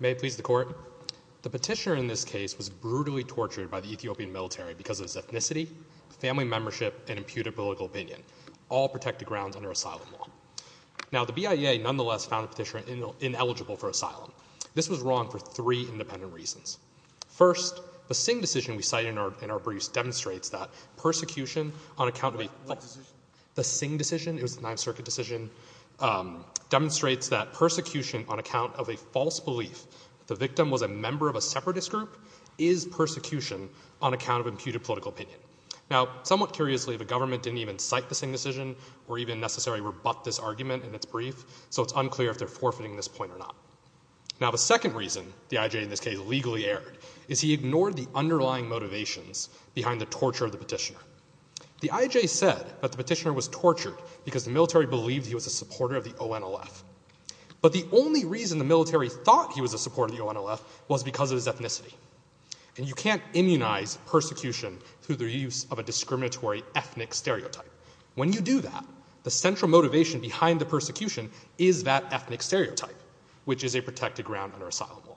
May it please the Court. The petitioner in this case was brutally tortured by the Ethiopian military because of his ethnicity, family membership, and impudent political opinion, all protected grounds under asylum law. Now, the BIA nonetheless found the petitioner ineligible for asylum. This was wrong for three independent reasons. First, the Singh decision we cite in our briefs demonstrates that persecution on account of a... What decision? The Singh decision, it was the Ninth Circuit decision, demonstrates that persecution on account of a false belief that the victim was a member of a separatist group is persecution on account of impudent political opinion. Now, somewhat curiously, the government didn't even cite the Singh decision or even necessarily rebut this argument in its brief, so it's unclear if they're forfeiting this point or not. Now, the second reason the IJ in this case legally erred is he ignored the underlying motivations behind the torture of the petitioner. The IJ said that the petitioner was tortured because the military believed he was a supporter of the ONLF. But the only reason the military thought he was a supporter of the ONLF was because of his ethnicity. And you can't immunize persecution through the use of a discriminatory ethnic stereotype. When you do that, the central motivation behind the persecution is that ethnic stereotype, which is a protected ground under asylum law.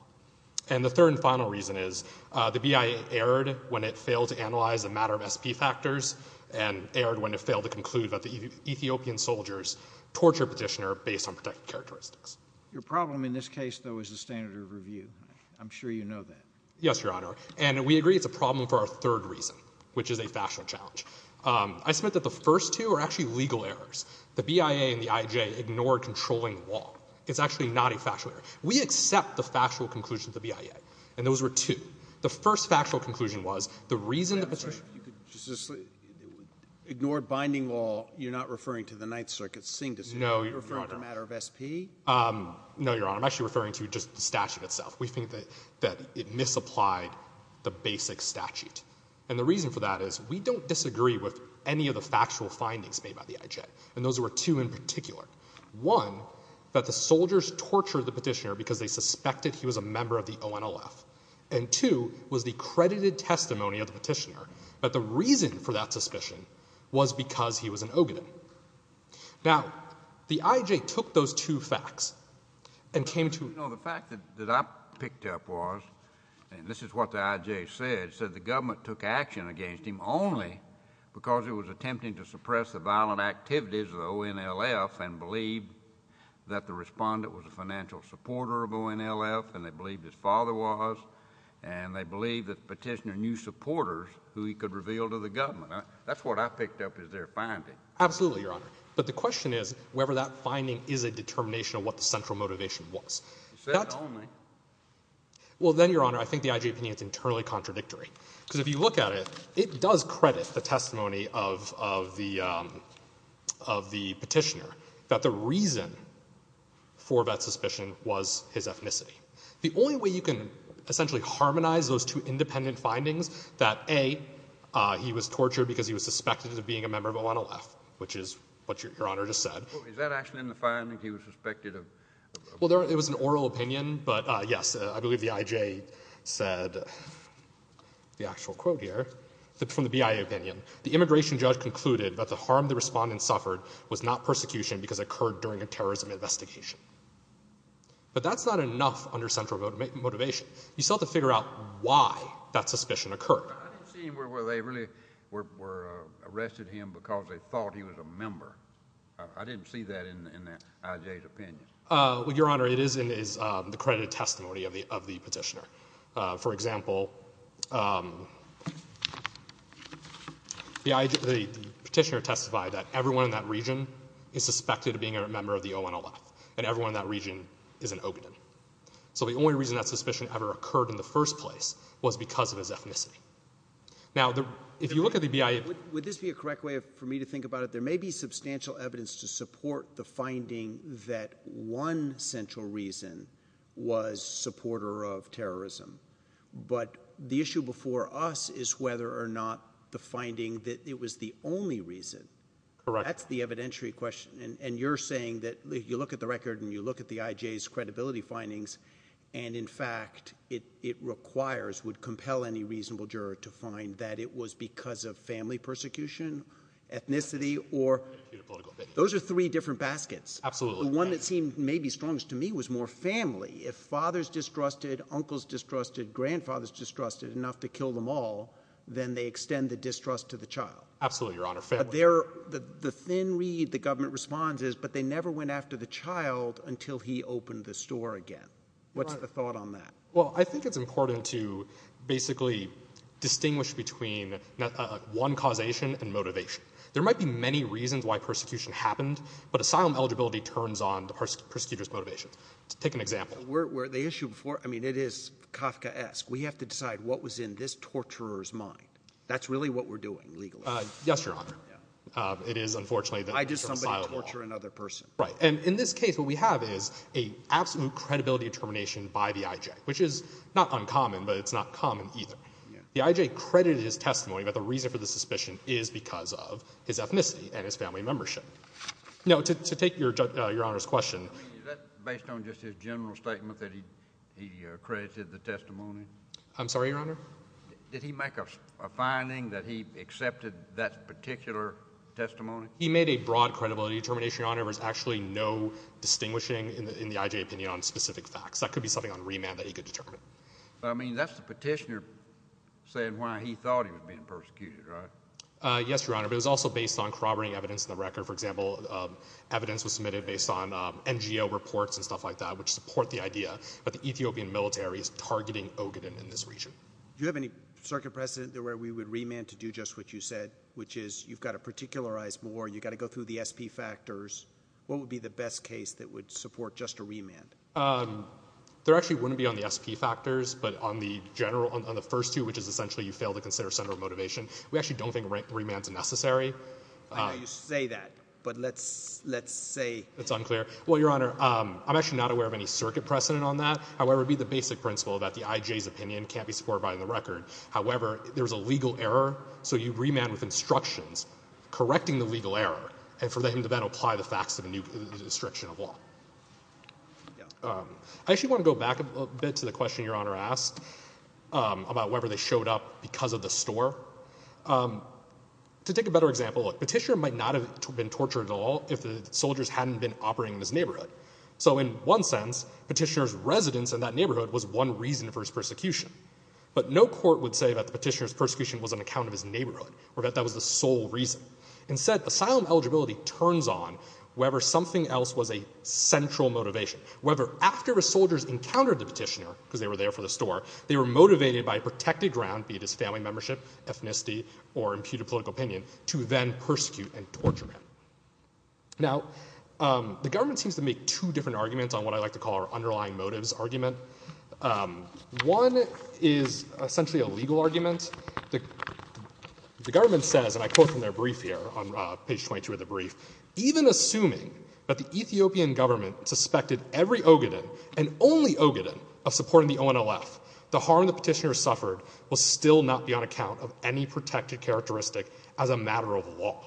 And the third and final reason is the BIA erred when it failed to analyze the matter of SP factors and erred when it failed to conclude that the Ethiopian soldiers tortured the petitioner based on JUSTICE SCALIA. Your problem in this case, though, is the standard of review. I'm sure you know that. MR. ZUCKERBERG. Yes, Your Honor. And we agree it's a problem for our third reason, which is a factual challenge. I submit that the first two are actually legal errors. The BIA and the IJ ignored controlling the law. It's actually not a factual error. We accept the factual conclusion of the BIA. And those were two. The first factual conclusion was the reason the petitioner- MR. BOUTROUS. I'm sorry. If you could just ignore binding law, you're not referring to the Ninth Circuit's Singh decision. MR. ZUCKERBERG. No, Your Honor. MR. BOUTROUS. Are you referring to the matter of SP? MR. ZUCKERBERG. No, Your Honor. I'm actually referring to just the statute itself. We think that it misapplied the basic statute. And the reason for that is we don't disagree with any of the factual findings made by the IJ. And those were two in particular. One, that the soldiers tortured the petitioner because they suspected he was a member of the ONLF. And two, was the credited testimony of the petitioner. But the reason for that suspicion was because he was an Ogden. Now, the IJ took those two facts and came to- MR. BOUTROUS. You know, the fact that I picked up was, and this is what the IJ said, said the government took action against him only because it was attempting to suppress the financial supporter of ONLF, and they believed his father was, and they believed that the petitioner knew supporters who he could reveal to the government. That's what I picked up MR. ZUCKERBERG. Absolutely, Your Honor. But the question is whether that finding is a determination of what the central motivation was. MR. BOUTROUS. You said it only. MR. ZUCKERBERG. Well, then, Your Honor, I think the IJ opinion is internally contradictory. Because if you look at it, it does credit the testimony of the petitioner that the reason for that suspicion was his ethnicity. The only way you can essentially harmonize those two independent findings, that, A, he was tortured because he was suspected of being a member of ONLF, which is what Your Honor just said. MR. BOUTROUS. Is that actually in the finding, he was suspected of- MR. ZUCKERBERG. Well, it was an oral opinion. But, yes, I believe the IJ said, the actual quote here, from the BIA opinion, the immigration judge concluded that the harm the investigation. But that's not enough under central motivation. You still have to figure out why that suspicion occurred. MR. BOUTROUS. I didn't see where they really were arrested him because they thought he was a member. I didn't see that in the IJ's opinion. MR. ZUCKERBERG. Well, Your Honor, it is in the credited testimony of the petitioner. For example, the petitioner testified that everyone in that region is suspected of being a member of the ONLF, and everyone in that region is an Ogden. So the only reason that suspicion ever occurred in the first place was because of his ethnicity. Now, if you look at the BIA- MR. BOUTROUS. Would this be a correct way for me to think about it? There may be substantial evidence to support the finding that one central reason was supporter of terrorism. But the issue before us is whether or not the finding that it was the only reason. MR. ZUCKERBERG. Correct. MR. BOUTROUS. You're saying that if you look at the record and you look at the IJ's credibility findings, and in fact it requires, would compel any reasonable juror to find that it was because of family persecution, ethnicity, or – those are three different baskets. MR. ZUCKERBERG. Absolutely. MR. BOUTROUS. The one that seemed maybe strongest to me was more family. If fathers distrusted, uncles distrusted, grandfathers distrusted enough to kill them all, then they extend the distrust to the child. MR. ZUCKERBERG. Absolutely, Your Honor. Family. MR. BOUTROUS. But the difference is, but they never went after the child until he opened the store again. What's the thought on that? MR. ZUCKERBERG. Well, I think it's important to basically distinguish between one causation and motivation. There might be many reasons why persecution happened, but asylum eligibility turns on the persecutor's motivations. Take an example. MR. BOUTROUS. Were the issue before – I mean, it is Kafkaesque. We have to decide what was in this torturer's mind. That's really what we're doing legally. MR. ZUCKERBERG. Yes, Your Honor. It is, unfortunately, that we're from asylum law. MR. BOUTROUS. We can't torture another person. MR. ZUCKERBERG. Right. And in this case, what we have is an absolute credibility determination by the I.J., which is not uncommon, but it's not common either. The I.J. credited his testimony, but the reason for the suspicion is because of his ethnicity and his family membership. Now, to take Your Honor's question – MR. BOUTROUS. I mean, is that based on just his general statement that he accredited the testimony? MR. ZUCKERBERG. I'm sorry, Your Honor? MR. BOUTROUS. Did he make a finding that he accepted that particular testimony? MR. ZUCKERBERG. He made a broad credibility determination, Your Honor, but there's actually no distinguishing in the I.J. opinion on specific facts. That could be something on remand that he could determine. MR. BOUTROUS. I mean, that's the petitioner saying why he thought he was being persecuted, right? MR. ZUCKERBERG. Yes, Your Honor, but it was also based on corroborating evidence in the record. For example, evidence was submitted based on NGO reports and stuff like that, which support the idea that the Ethiopian military is targeting Ogaden in this region. MR. BOUTROUS. Do you have any circuit precedent there where we would remand to do just what you said, which is you've got to particularize more, you've got to go through the S.P. factors? What would be the best case that would support just a remand? MR. ZUCKERBERG. There actually wouldn't be on the S.P. factors, but on the first two, which is essentially you fail to consider senatorial motivation, we actually don't think remand's necessary. MR. BOUTROUS. I know you say that, but let's say — MR. ZUCKERBERG. That's unclear. Well, Your Honor, I'm actually not aware of any circuit precedent on that. However, it would be the basic principle that the I.J.'s opinion can't be supported by the record. However, there's a legal error, so you remand with instructions correcting the legal error, and for them to then apply the facts of a new restriction MR. BOUTROUS. Yeah. MR. ZUCKERBERG. I actually want to go back a bit to the question Your Honor asked about whether they showed up because of the store. To take a better example, a petitioner might not have been tortured at all if the soldiers hadn't been operating in his neighborhood. So in one sense, petitioner's residence in that neighborhood was one reason for his persecution. But no court would say that the petitioner's persecution was on account of his neighborhood or that that was the sole reason. Instead, asylum eligibility turns on whether something else was a central motivation, whether after the soldiers encountered the petitioner, because they were there for the store, they were motivated by protected ground, be it his family membership, ethnicity, or imputed political opinion, to then persecute and torture him. Now, the government seems to make two different arguments on what I like to call our underlying motives argument. One is essentially a legal argument. The government says, and I quote from their brief here on page 22 of the brief, even assuming that the Ethiopian government suspected every Ogaden, and only Ogaden, of supporting the ONLF, the harm the petitioner suffered will still not be on account of any protected characteristic as a matter of law.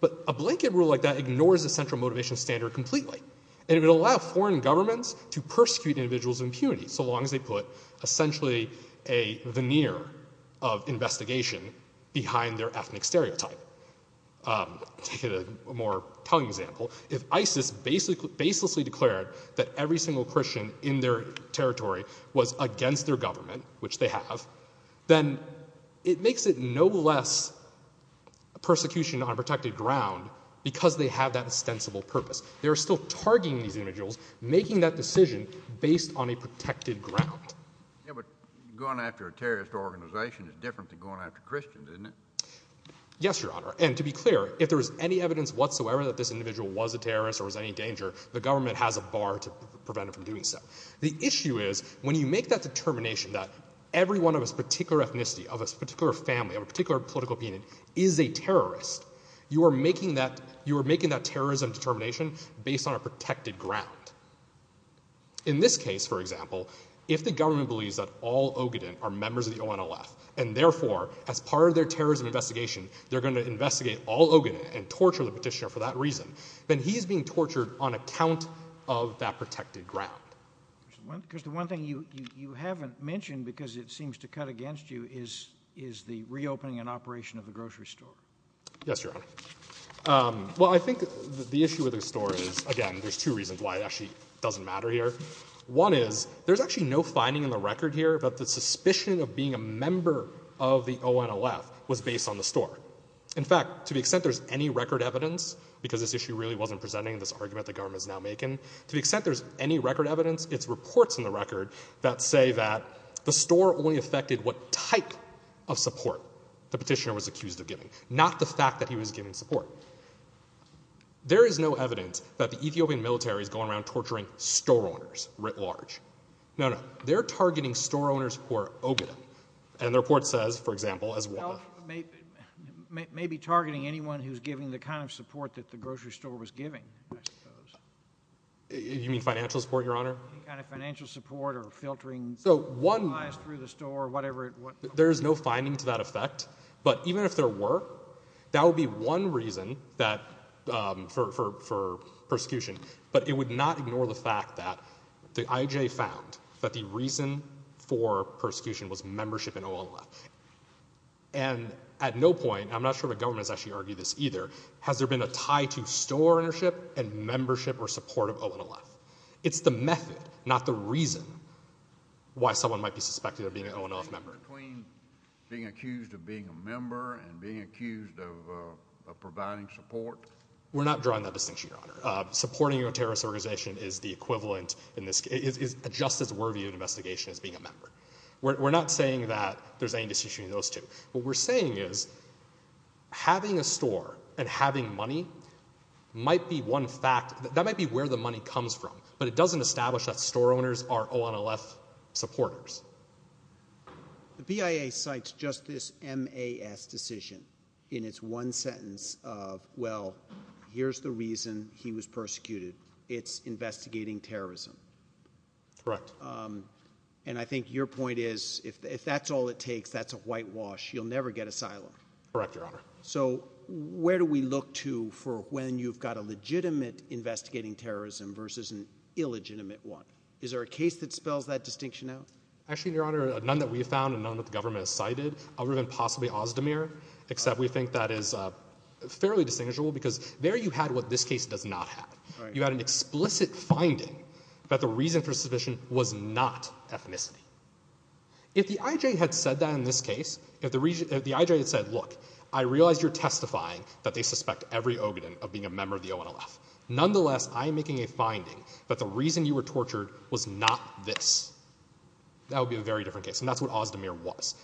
But a blanket rule like that ignores a central motivation standard completely. And it would allow foreign governments to persecute individuals of impunity so long as they put essentially a veneer of investigation behind their ethnic stereotype. I'll take a more tongue example. If ISIS baselessly declared that every single Christian in their territory was against their government, which they have, then it makes it no less persecution on protected ground because they have that ostensible purpose. They are still targeting these individuals, making that decision based on a protected ground. Yeah, but going after a terrorist organization is different than going after Christians, isn't it? Yes, Your Honor. And to be clear, if there is any evidence whatsoever that this individual was a terrorist or was any danger, the government has a bar to prevent it from doing so. The issue is, when you make that determination that every one of us, particular ethnicity, of a particular family, of a particular political opinion, is a terrorist, you are making that terrorism determination based on a protected ground. In this case, for example, if the government believes that all Ogaden are members of the ONLF, and therefore, as part of their terrorism investigation, they're going to investigate all Ogaden and torture the petitioner for that reason, then he's being tortured on account of that protected ground. Because the one thing you haven't mentioned, because it seems to cut against you, is the reopening and operation of the grocery store. Yes, Your Honor. Well, I think the issue with the store is, again, there's two reasons why it actually doesn't matter here. One is, there's actually no finding in the record here that the suspicion of being a member of the ONLF was based on the store. In fact, to the extent there's any record evidence, because this issue really wasn't presenting this argument that the government is now making, to the extent there's any record evidence, it's reports in the record that say that the store only affected what type of support the petitioner was accused of giving, not the fact that he was giving support. There is no evidence that the Ethiopian military is going around torturing store owners writ large. No, no. They're targeting store owners who are Ogaden. And the report says, for example, as one of the— Maybe targeting anyone who's giving the kind of support that the grocery store was giving, I suppose. You mean financial support, Your Honor? Any kind of financial support, or filtering supplies through the store, or whatever. There's no finding to that effect. But even if there were, that would be one reason for persecution. But it would not ignore the fact that the IJ found that the reason for persecution was membership in ONLF. And at no point—I'm not sure the government has actually argued this either—has there been a tie to store ownership and membership or support of ONLF. It's the method, not the reason, why someone might be suspected of being an ONLF member. Between being accused of being a member and being accused of providing support? We're not drawing that distinction, Your Honor. Supporting a terrorist organization is the We're not saying that there's any distinction between those two. What we're saying is, having a store and having money might be one fact—that might be where the money comes from. But it doesn't establish that store owners are ONLF supporters. The BIA cites just this MAS decision in its one sentence of, well, here's the reason he was persecuted. It's investigating terrorism. Correct. And I think your point is, if that's all it takes, that's a whitewash, you'll never get asylum. Correct, Your Honor. So, where do we look to for when you've got a legitimate investigating terrorism versus an illegitimate one? Is there a case that spells that distinction out? Actually, Your Honor, none that we've found and none that the government has cited other than possibly Ozdemir, except we think that is fairly distinguishable because there you had what this case does not have. You had an explicit finding that the reason for persecution was not ethnicity. If the IJ had said that in this case, if the IJ had said, look, I realize you're testifying that they suspect every Ogden of being a member of the ONLF. Nonetheless, I'm making a finding that the reason you were tortured was not this. That would be a very different case. And that's what Ozdemir was.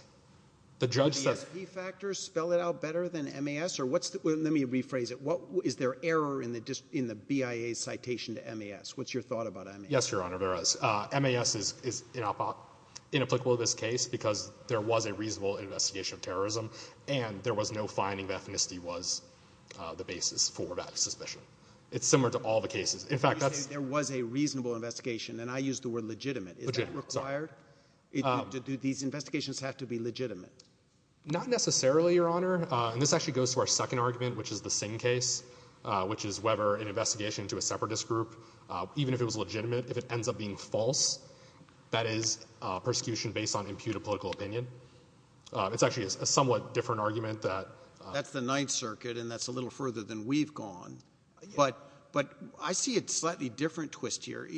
The judge says— Do the ESP factors spell it out better than MAS? Or what's the—let me rephrase it. What—is there error in the BIA's citation to MAS? What's your thought about MAS? Yes, Your Honor, there is. MAS is inapplicable to this case because there was a reasonable investigation of terrorism, and there was no finding that ethnicity was the basis for that suspicion. It's similar to all the cases. In fact, that's— You say there was a reasonable investigation, and I use the word legitimate. Is that required? Do these investigations have to be legitimate? Not necessarily, Your Honor. And this actually goes to our second argument, which is the if it ends up being false, that is, persecution based on imputed political opinion. It's actually a somewhat different argument that— That's the Ninth Circuit, and that's a little further than we've gone. But I see a slightly different twist here.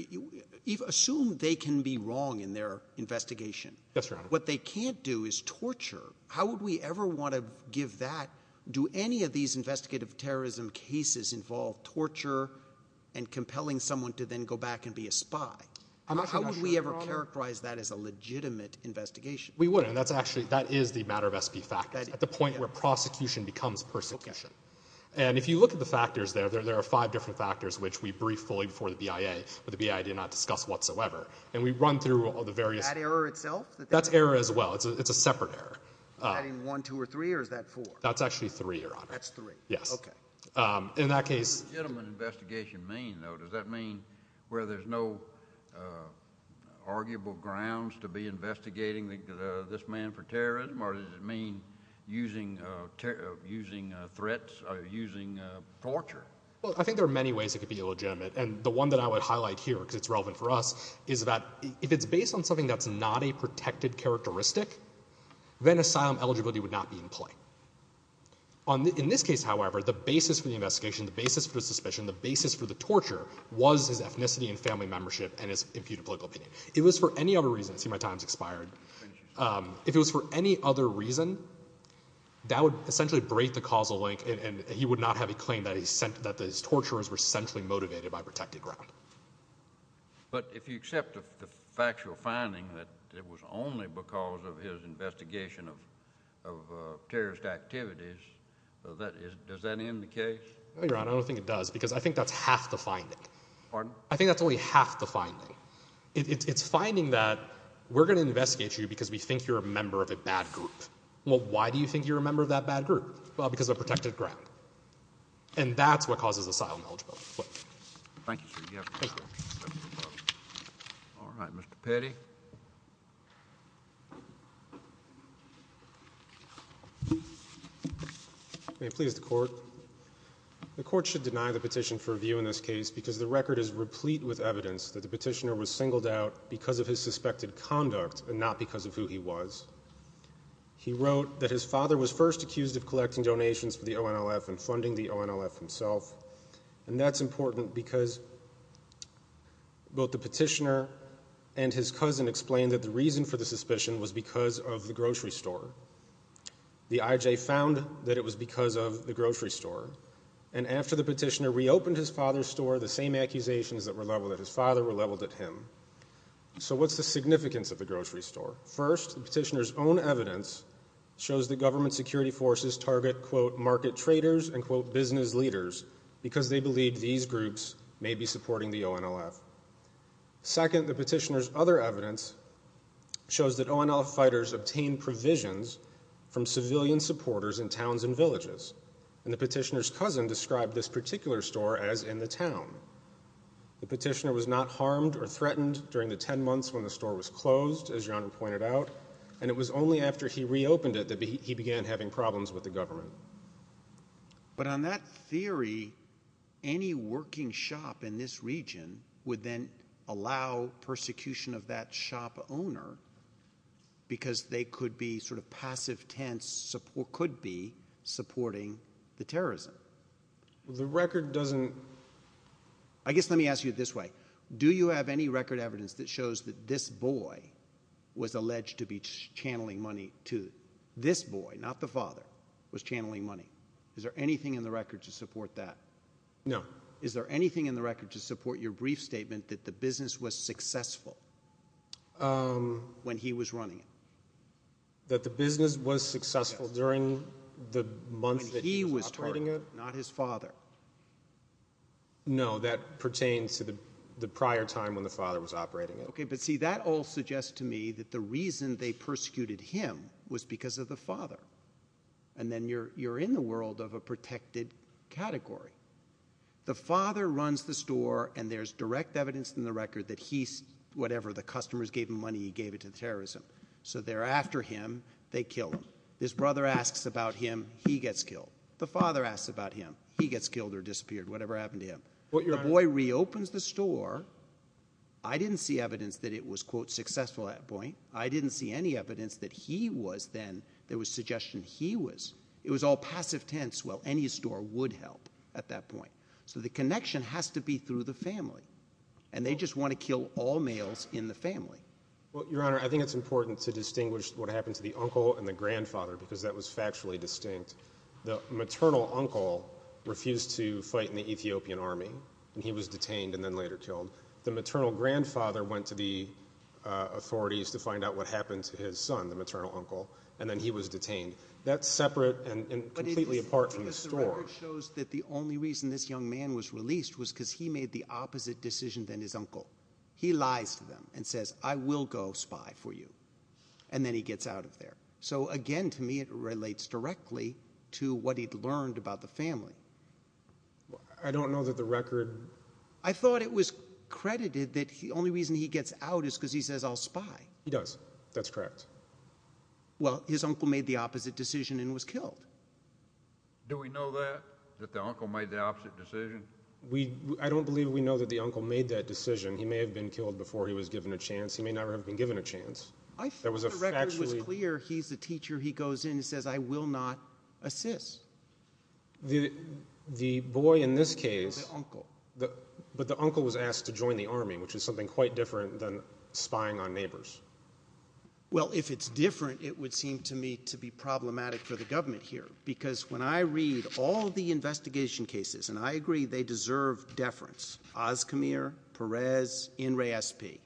Assume they can be wrong in their investigation. Yes, Your Honor. What they can't do is torture. How would we ever want to give that—do any of these investigative terrorism cases involve torture and compelling someone to then go back and be a spy? How would we ever characterize that as a legitimate investigation? We wouldn't. That's actually—that is the matter of SP factors, at the point where prosecution becomes persecution. And if you look at the factors there, there are five different factors which we briefed fully before the BIA, but the BIA did not discuss whatsoever. And we run through all the various— That error itself? That's error as well. It's a separate error. Is that in one, two, or three, or is that four? That's actually three, Your Honor. That's three. Yes. Okay. In that case— What does legitimate investigation mean, though? Does that mean where there's no arguable grounds to be investigating this man for terrorism, or does it mean using threats or using torture? Well, I think there are many ways it could be illegitimate. And the one that I would highlight here, because it's relevant for us, is that if it's based on something that's not a protected characteristic, then asylum eligibility would not be in play. In this case, however, the basis for the investigation, the basis for the suspicion, the basis for the torture was his ethnicity and family membership and his imputed political opinion. If it was for any other reason—see, my time's expired. If it was for any other reason, that would essentially break the causal link, and he would not have a claim that his torturers were centrally motivated by protected ground. But if you accept the factual finding that it was only because of his investigation of terrorist activities, does that end the case? No, Your Honor, I don't think it does, because I think that's half the finding. Pardon? I think that's only half the finding. It's finding that we're going to investigate you because we think you're a member of a bad group. Well, why do you think you're a member of that bad group? Well, because of protected ground. And that's what causes asylum eligibility. Thank you, sir. You have a good time. All right. Mr. Petty? May it please the Court? The Court should deny the petition for review in this case because the record is replete with evidence that the petitioner was singled out because of his suspected conduct and not because of who he was. He wrote that his father was first important because both the petitioner and his cousin explained that the reason for the suspicion was because of the grocery store. The IJ found that it was because of the grocery store. And after the petitioner reopened his father's store, the same accusations that were leveled at his father were leveled at him. So what's the significance of the grocery store? First, the petitioner's own evidence shows that government security forces target quote market traders and quote business leaders because they believe these groups may be supporting the ONLF. Second, the petitioner's other evidence shows that ONLF fighters obtain provisions from civilian supporters in towns and villages. And the petitioner's cousin described this particular store as in the town. The petitioner was not harmed or threatened during the ten months when the store was closed, as your Honor pointed out, and it was only after he was arrested that he was found guilty. And the petitioner's cousin described this particular store as in the town. But on that theory, any working shop in this region would then allow persecution of that shop owner because they could be sort of passive tense support could be supporting the terrorism. The record doesn't I guess let me ask you this way. Do you have any record evidence that shows that this boy was alleged to be channeling money to this boy, not the father, was channeling money? Is there anything in the record to support that? No. Is there anything in the record to support your brief statement that the business was successful when he was running it? That the business was successful during the month that he was operating it? Not his father. No, that pertains to the prior time when the father was operating it. Okay, but see that all suggests to me that the reason they persecuted him was because of the father. And then you're in the world of a protected category. The father runs the store and there's direct evidence in the record that he, whatever, the customers gave him money, he gave it to the terrorism. So thereafter him, they kill him. His brother asks about him, he gets killed. The father asks about him, he gets killed or disappeared, whatever happened to him. The boy reopens the store. I didn't see evidence that it was quote successful at that point. I didn't see any evidence that he was then, there was suggestion he was. It was all passive tense, well any store would help at that point. So the connection has to be through the family. And they just want to kill all males in the family. Well, Your Honor, I think it's important to distinguish what happened to the uncle and the grandfather because that was factually distinct. The maternal uncle refused to fight in the Ethiopian army and he was detained and then later killed. The maternal grandfather went to the authorities to find out what happened to his son, the maternal uncle, and then he was detained. That's separate and completely apart from the story. But it's interesting because the record shows that the only reason this young man was released was because he made the opposite decision than his uncle. He lies to them and says, I will go spy for you. And then he gets out of there. So again, to me, it relates directly to what he'd learned about the family. I don't know that the record. I thought it was credited that the only reason he gets out is because he says I'll spy. He does. That's correct. Well, his uncle made the opposite decision and was killed. Do we know that? That the uncle made the opposite decision? We, I don't believe we know that the uncle made that decision. He may have been killed before he was given a chance. He may not have been given a chance. I thought the record was clear. He's the teacher. He goes in and says, I will not assist. The, the boy in this case, the, but the uncle was asked to join the army, which is something quite different than spying on neighbors. Well, if it's different, it would seem to me to be problematic for the government here because when I read all the investigation cases, and I agree they deserve deference, Oz Camere Perez in re SP,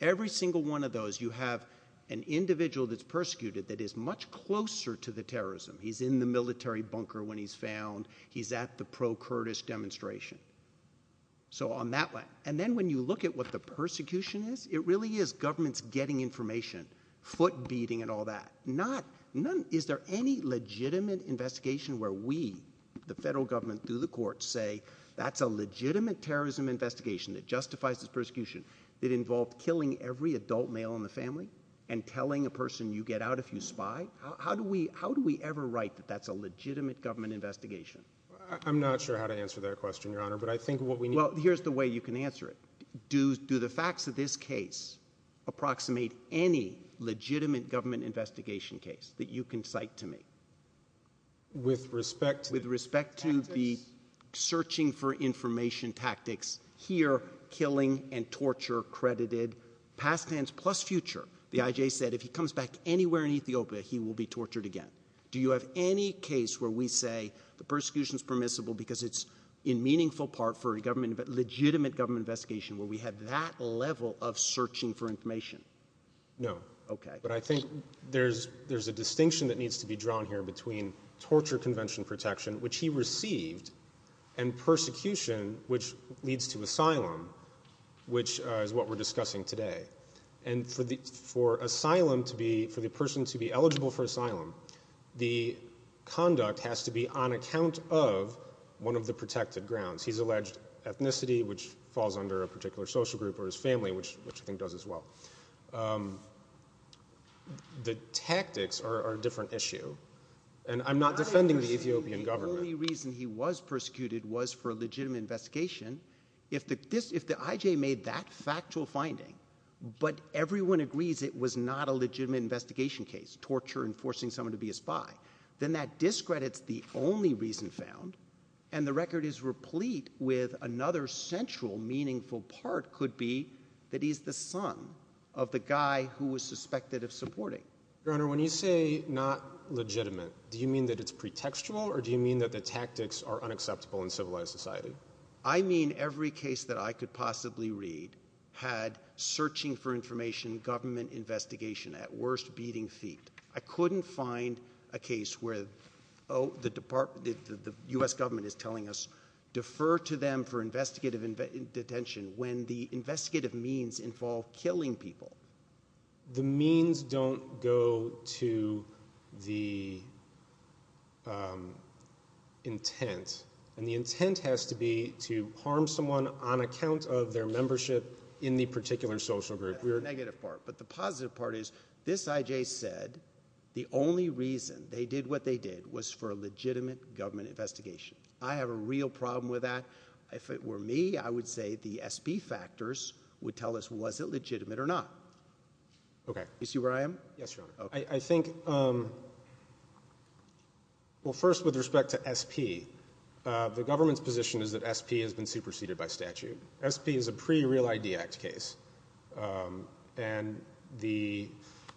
every single one of those, you have an individual that's persecuted that is much closer to the terrorism. He's in the military bunker when he's found he's at the pro Curtis demonstration. So on that one, and then when you look at what the persecution is, it really is government's getting information foot beating and all that, not none. Is there any legitimate investigation where we, the courts say that's a legitimate terrorism investigation that justifies this persecution that involved killing every adult male in the family and telling a person you get out if you spy? How do we, how do we ever write that that's a legitimate government investigation? I'm not sure how to answer that question, Your Honor, but I think what we need, here's the way you can answer it. Do do the facts of this case approximate any legitimate government investigation case that you can cite to me with respect, with respect to the searching for information tactics here, killing and torture credited past tense plus future. The IJ said, if he comes back anywhere in Ethiopia, he will be tortured again. Do you have any case where we say the persecution is permissible because it's in meaningful part for a government of legitimate government investigation where we had that level of searching for information? No. Okay. But I think there's, there's a distinction that needs to be drawn here between torture convention protection, which he received and persecution, which leads to asylum, which is what we're discussing today. And for the, for asylum to be, for the person to be eligible for asylum, the conduct has to be on account of one of the protected grounds. He's alleged ethnicity, which falls under a particular social group or his family, which, which I suppose as well. Um, the tactics are a different issue and I'm not defending the Ethiopian government. The only reason he was persecuted was for a legitimate investigation. If the this, if the IJ made that factual finding, but everyone agrees it was not a legitimate investigation case, torture and forcing someone to be a spy, then that discredits the only reason found. And the record is replete with another central meaningful part could be that he's the son of the guy who was suspected of supporting. Your Honor, when you say not legitimate, do you mean that it's pretextual or do you mean that the tactics are unacceptable in civilized society? I mean every case that I could possibly read had searching for information, government investigation at worst beating feet. I couldn't find a case where, Oh, the department, the U S government is telling us defer to them for investigative in detention. When the investigative means involve killing people, the means don't go to the, um, intent and the intent has to be to harm someone on account of their membership in the particular social group. We are negative part, but the positive part is this IJ said the only reason they did what they did was for a legitimate government investigation. I have a real problem with that. If it were me, I would say the SP factors would tell us, was it legitimate or not? Okay. You see where I am? Yes, Your Honor. I think, um, well first with respect to SP, uh, the government's position is that SP has been superseded by statute. SP is a pre real idea act case. Um, and the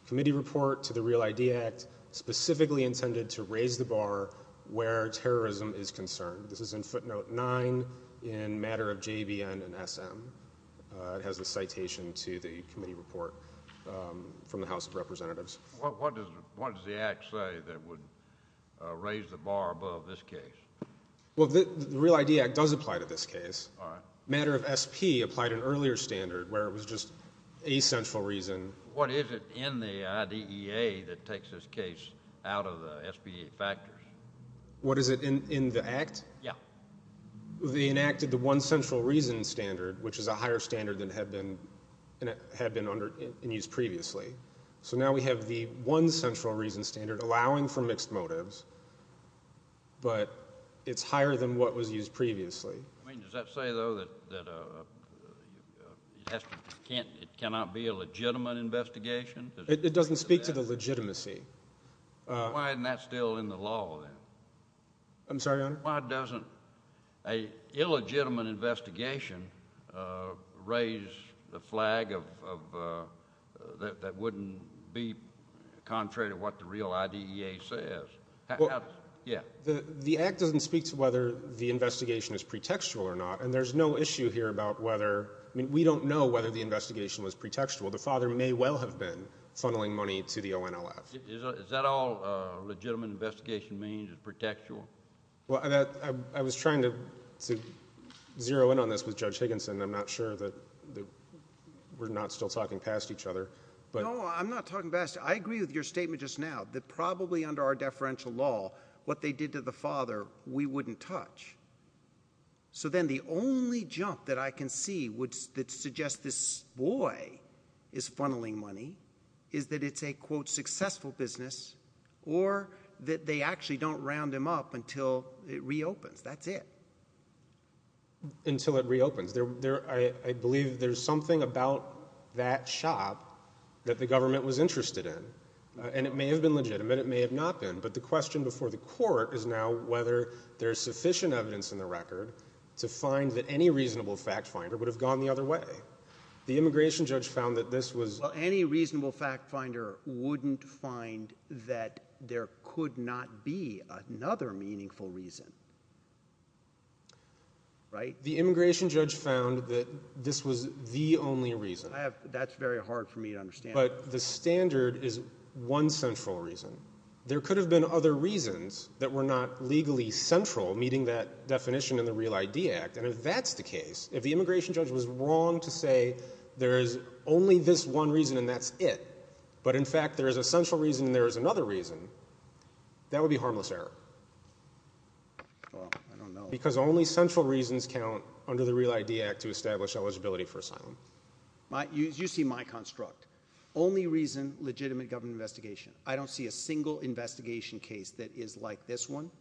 committee report to the real idea act specifically intended to raise the bar where terrorism is concerned. This is in footnote nine in matter of JVN and SM. Uh, it has a citation to the committee report, um, from the house of representatives. What does, what does the act say that would raise the bar above this case? Well, the real idea act does apply to this case. All right. Matter of SP applied an earlier standard where it was just a central reason. What is it in the IDEA that takes this case out of the SP factors? What is it in the act? Yeah. They enacted the one central reason standard, which is a higher standard than had been, had been under and used previously. So now we have the one central reason standard allowing for mixed motives, but it's higher than what was used previously. I mean, does that say though, that, that, uh, it has to, it can't, it cannot be a legitimate investigation. It doesn't speak to the legitimacy. Why isn't that still in the law then? I'm sorry. Why doesn't a illegitimate investigation, uh, raise the flag of, of, uh, that, that wouldn't be contrary to what the real idea says. Yeah. The act doesn't speak to whether the investigation is pretextual or not. And there's no issue here about whether, I mean, we don't know whether the investigation was pretextual. The father may well have been funneling money to the ONLF. Is that all a legitimate investigation means is pretextual? Well, that I was trying to, to zero in on this with judge Higginson. I'm not sure that we're not still talking past each other, but I'm not talking best. I agree with your statement just now that probably under our deferential law, what they did to the father, we wouldn't touch. So then the only jump that I can see would, that suggests this boy is funneling money is that it's a quote successful business or that they actually don't round him up until it reopens. That's it. Until it reopens there, there, I, I believe there's something about that shop that the government was interested in and it may have been legitimate, it may have not been, but the court is now whether there's sufficient evidence in the record to find that any reasonable fact finder would have gone the other way. The immigration judge found that this was any reasonable fact finder wouldn't find that there could not be another meaningful reason, right? The immigration judge found that this was the only reason I have. That's very hard for me to understand, but the standard is one central reason. There could have been other reasons that were not legally central meeting that definition in the real ID act. And if that's the case, if the immigration judge was wrong to say there is only this one reason and that's it, but in fact there is a central reason and there is another reason that would be harmless error. Well, I don't know because only central reasons count under the real ID act to establish eligibility for asylum. You see my construct, only reason, legitimate government investigation. I don't see a single investigation case that is like this one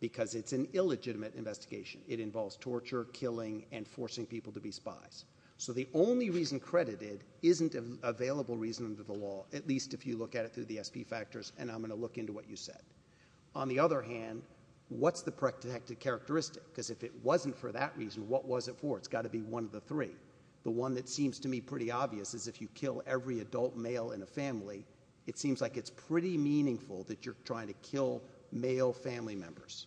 because it's an illegitimate investigation. It involves torture, killing and forcing people to be spies. So the only reason credited isn't available reason under the law, at least if you look at it through the SP factors, and I'm going to look into what you said. On the other hand, what's the protected characteristic? Because if it wasn't for that reason, what was it for? It's got to be one of the three. The one that seems to me pretty obvious is if you kill every adult male in a family, it seems like it's pretty meaningful that you're trying to kill male family members.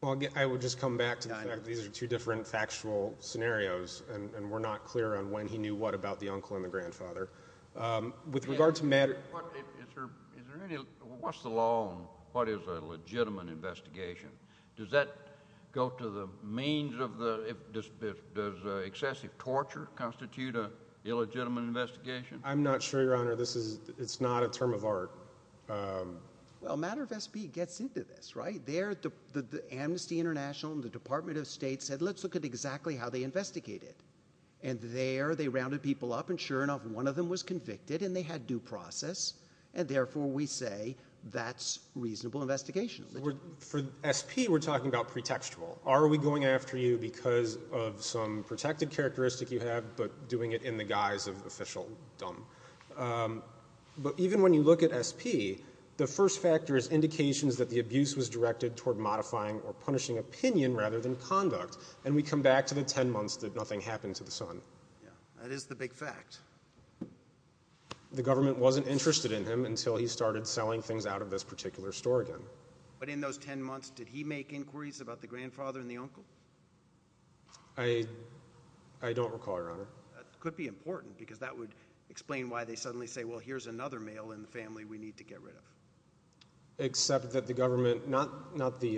Well, again, I would just come back to the fact that these are two different factual scenarios and we're not clear on when he knew what about the uncle and the grandfather. With regard to matter. What's the law? What is a legitimate investigation? Does that go to the means of the excessive torture constitute a illegitimate investigation? I'm not sure, Your Honor. This is it's not a term of art. Well, matter of SP gets into this right there. The Amnesty International and the Department of State said, let's look at exactly how they investigated. And there they rounded people up and sure enough, one of them was convicted and they had due process. And therefore, we say that's reasonable investigation. For SP, we're talking about pretextual. Are we going after you because of some protected characteristic you have, but doing it in the guise of official dumb. But even when you look at SP, the first factor is indications that the abuse was directed toward modifying or punishing opinion rather than conduct. And we come back to the 10 months that nothing happened to the son. Yeah, that is the big fact. The government wasn't interested in him until he started selling things out of this particular store again. But in those 10 months, did he make inquiries about the grandfather and the uncle? I, I don't recall, Your Honor. That could be important because that would explain why they suddenly say, well, here's another male in the family we need to get rid of. Except that the government, not not the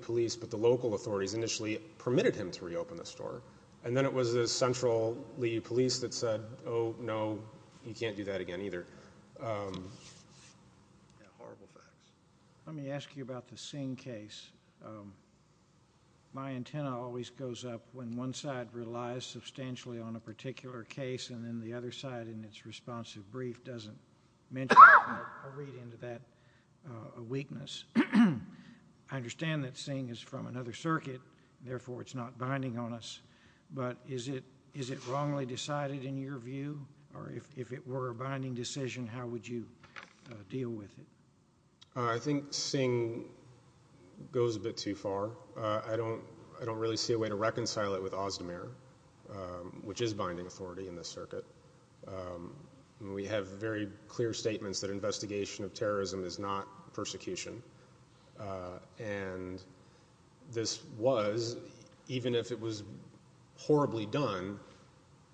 police, but the local authorities initially permitted him to reopen the store. And then it was the central police that said, oh no, you can't do that again either. Horrible facts. Let me ask you about the Singh case. My antenna always goes up when one side relies substantially on a particular case and then the other side in its responsive brief doesn't mention or read into that weakness. I understand that Singh is from another circuit, therefore it's not binding on us. But is it, is it wrongly decided in your view? Or if it were a binding decision, how would you deal with it? I think Singh goes a bit too far. I don't, I don't really see a way to reconcile it with Ozdemir, which is binding authority in the circuit. We have very clear statements that investigation of terrorism is not persecution. And this was, even if it was horribly done,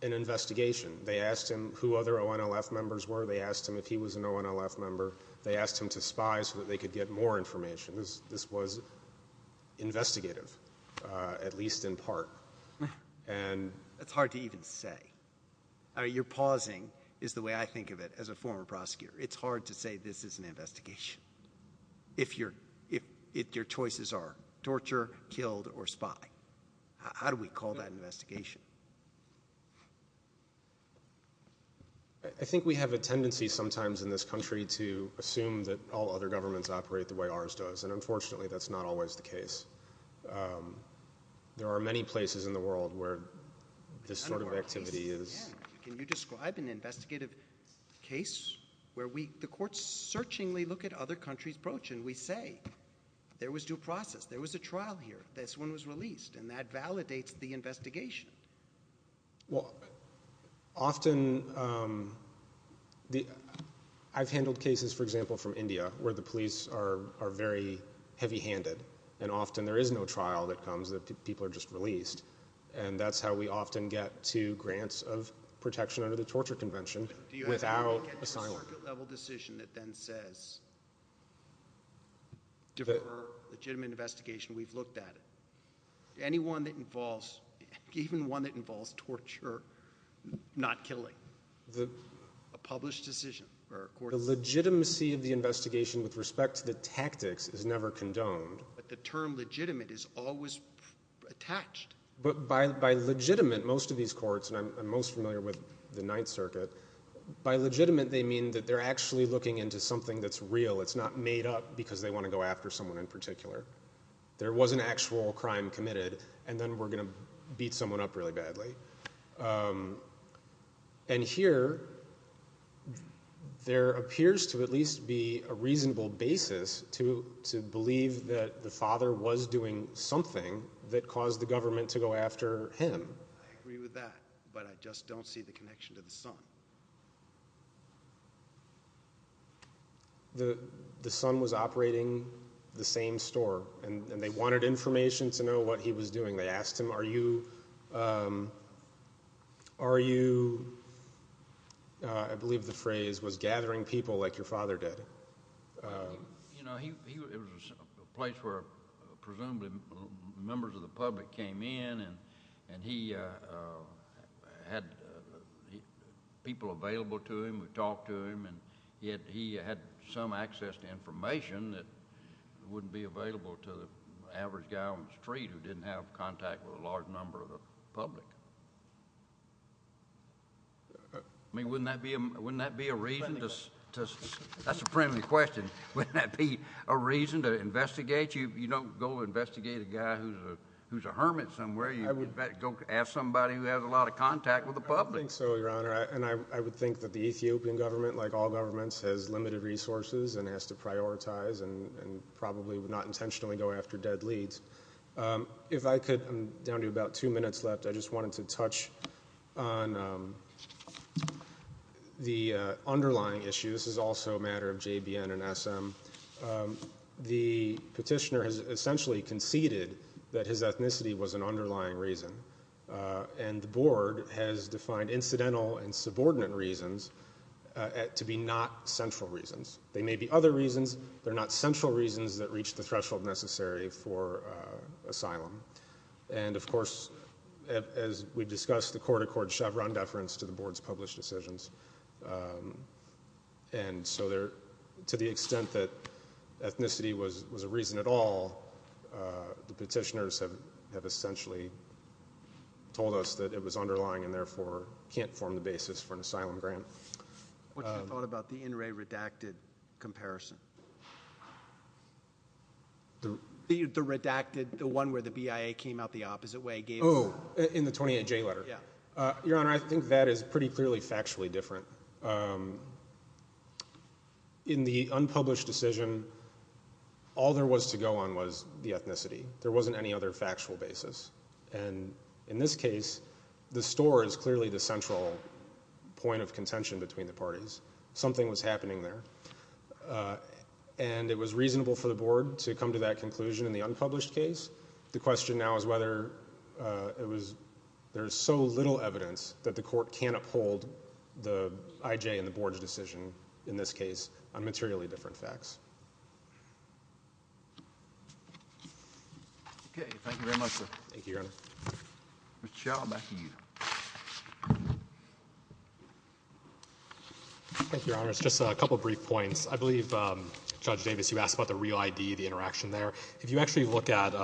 an investigation. They asked him who other ONLF members were. They asked him if he was an ONLF member. They asked him to spy so that they could get more information. This, this was investigative, at least in part. And that's hard to even say. You're pausing is the way I think of it as a former prosecutor. It's hard to say this is an investigation if you're, if your choices are torture, killed, or spy. How do we call that investigation? I think we have a tendency sometimes in this country to assume that all other governments operate the way ours does. And unfortunately that's not always the case. There are many places in the world where this sort of activity is. Can you describe an investigative case where we, the courts searchingly look at other countries' approach and we say, there was due process. There was a trial here. This one was released. And that validates the investigation. Well, often the, I've handled cases, for example, from India where the police are, are very heavy handed. And often there is no trial that comes that people are just released. And that's how we often get to grants of protection under the torture convention without asylum. Do you have a circuit level decision that then says, for a legitimate investigation, we've looked at it. Anyone that involves, even one that involves torture, not killing, a published decision or a court decision. The legitimacy of the investigation with respect to the tactics is never condoned. But the term legitimate is always attached. But by, by legitimate, most of these courts, and I'm most familiar with the ninth circuit, by legitimate, they mean that they're actually looking into something that's real. It's not made up because they want to go after someone in particular. There was an actual crime committed and then we're going to beat someone up really badly. And here, there appears to at least be a reasonable basis to, to believe that the father was doing something that caused the government to go after him. I agree with that, but I just don't see the connection to the son. The, the son was operating the same store and they wanted information to know what he was doing. They asked him, are you, are you, I believe the phrase was gathering people like your father did. You know, he was a place where presumably members of the public came in and, and he had people available to him. We talked to him and yet he had some access to information that average guy on the street who didn't have contact with a large number of the public. I mean, wouldn't that be a, wouldn't that be a reason to, to, that's a friendly question. Wouldn't that be a reason to investigate? You, you don't go investigate a guy who's a, who's a hermit somewhere. You go ask somebody who has a lot of contact with the public. I don't think so, Your Honor. And I, I would think that the Ethiopian government, like all governments, has limited resources and has to prioritize and, and probably would not intentionally go after dead leads. If I could, I'm down to about two minutes left. I just wanted to touch on the underlying issue. This is also a matter of JBN and SM. The petitioner has essentially conceded that his ethnicity was an underlying reason. And the board has defined incidental and subordinate reasons to be not central reasons. They may be other reasons. They're not central reasons that reach the threshold necessary for asylum. And of course, as we've discussed, the court accords Chevron deference to the board's published decisions. And so there, to the extent that ethnicity was, was a reason at all, the petitioners have, have essentially told us that it was underlying and therefore can't form the basis for an asylum grant. What's your thought about the NRA redacted comparison? The, the, the redacted, the one where the BIA came out the opposite way. Oh, in the 28J letter. Yeah. Your Honor, I think that is pretty clearly factually different. In the unpublished decision, all there was to go on was the ethnicity. There wasn't any other contention between the parties. Something was happening there. And it was reasonable for the board to come to that conclusion in the unpublished case. The question now is whether it was, there's so little evidence that the court can uphold the IJ and the board's decision in this case on materially different facts. Okay. Thank you very much, sir. Thank you, Your Honor. Mr. Chau, back to you. Thank you, Your Honor. It's just a couple of brief points. I believe, Judge Davis, you asked about the REAL-ID, the interaction there. If you actually look at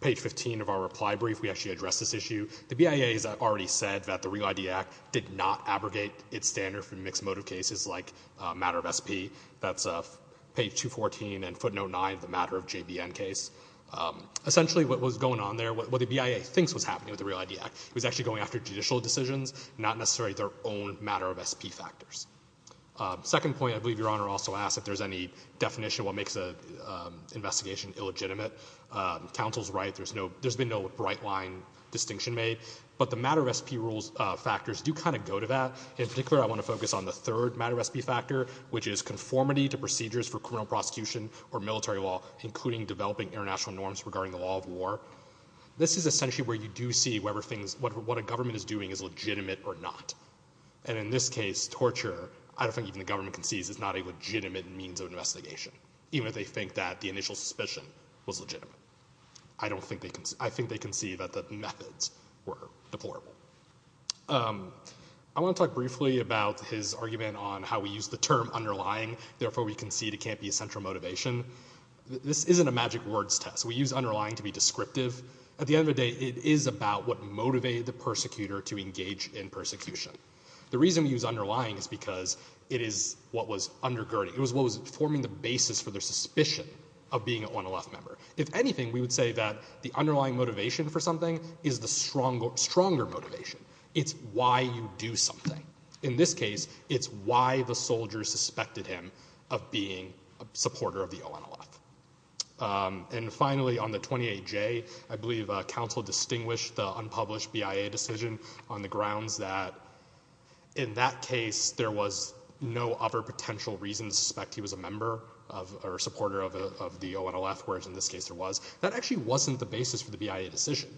page 15 of our reply brief, we actually addressed this issue. The BIA has already said that the REAL-ID Act did not abrogate its standard for mixed motive cases like a matter of SP. That's page 214 and the matter of JBN case. Essentially, what was going on there, what the BIA thinks was happening with the REAL-ID Act was actually going after judicial decisions, not necessarily their own matter of SP factors. Second point, I believe Your Honor also asked if there's any definition of what makes an investigation illegitimate. Counsel's right. There's been no bright line distinction made. But the matter of SP rules factors do kind of go to that. In particular, I want to focus on the third matter of SP factor, which is conformity to procedures for criminal prosecution or military law, including developing international norms regarding the law of war. This is essentially where you do see whether things, what a government is doing is legitimate or not. And in this case, torture, I don't think even the government can see, is not a legitimate means of investigation, even if they think that the initial suspicion was legitimate. I don't think they can. I think they can see that the methods were deplorable. I want to talk briefly about his argument on how we use the term underlying. Therefore, we concede it can't be a central motivation. This isn't a magic words test. We use underlying to be descriptive. At the end of the day, it is about what motivated the persecutor to engage in persecution. The reason we use underlying is because it is what was undergirding. It was what was forming the basis for their suspicion of being an ONLF member. If anything, we would say that the underlying motivation for something is the stronger motivation. It's why you do something. In this case, it's why the soldier suspected him of being a supporter of the ONLF. Finally, on the 28J, I believe counsel distinguished the unpublished BIA decision on the grounds that in that case, there was no other potential reason to suspect he was a member or supporter of the ONLF, whereas in this case there was. That actually wasn't the basis for the BIA decision.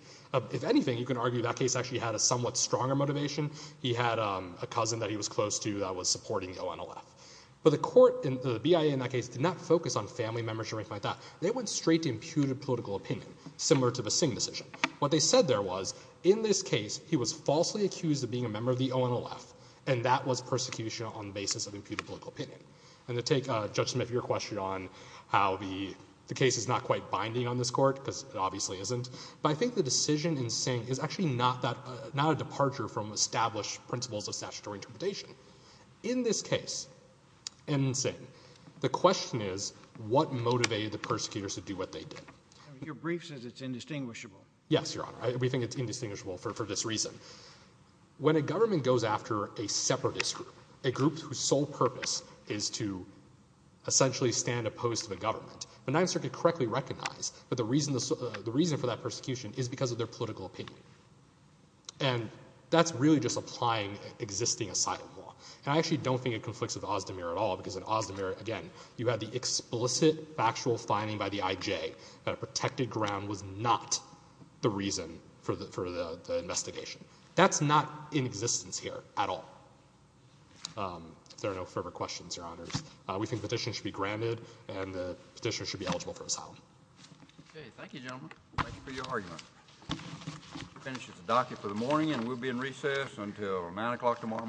If anything, you can argue that case actually had a somewhat stronger motivation. He had a cousin that he was close to that was supporting the ONLF. The BIA in that case did not focus on family members or anything like that. They went straight to imputed political opinion, similar to the Singh decision. What they said there was, in this case, he was falsely accused of being a member of the ONLF, and that was persecution on the basis of imputed political opinion. To take Judge Smith, your question on how the case is not quite binding on this court, because it obviously isn't, but I think the decision in Singh is actually not a departure from established principles of statutory interpretation. In this case, in Singh, the question is, what motivated the persecutors to do what they did? Your brief says it's indistinguishable. Yes, Your Honor. We think it's indistinguishable for this reason. When a government goes after a separatist group, a group whose sole purpose is to essentially stand opposed to the government, the Ninth Circuit correctly recognized that the reason for that persecution is because of their political opinion. And that's really just applying existing asylum law. And I actually don't think it conflicts with Ozdemir at all, because in Ozdemir, again, you had the explicit factual finding by the IJ that a protected ground was not the reason for the investigation. That's not in existence here at all. If there are no further questions, Your Honors, we think the petition should be granted and the petitioner should be eligible for asylum. Okay. Thank you, gentlemen. Thank you for your argument. Finishes the docket for the morning and we'll be in recess until nine o'clock tomorrow morning.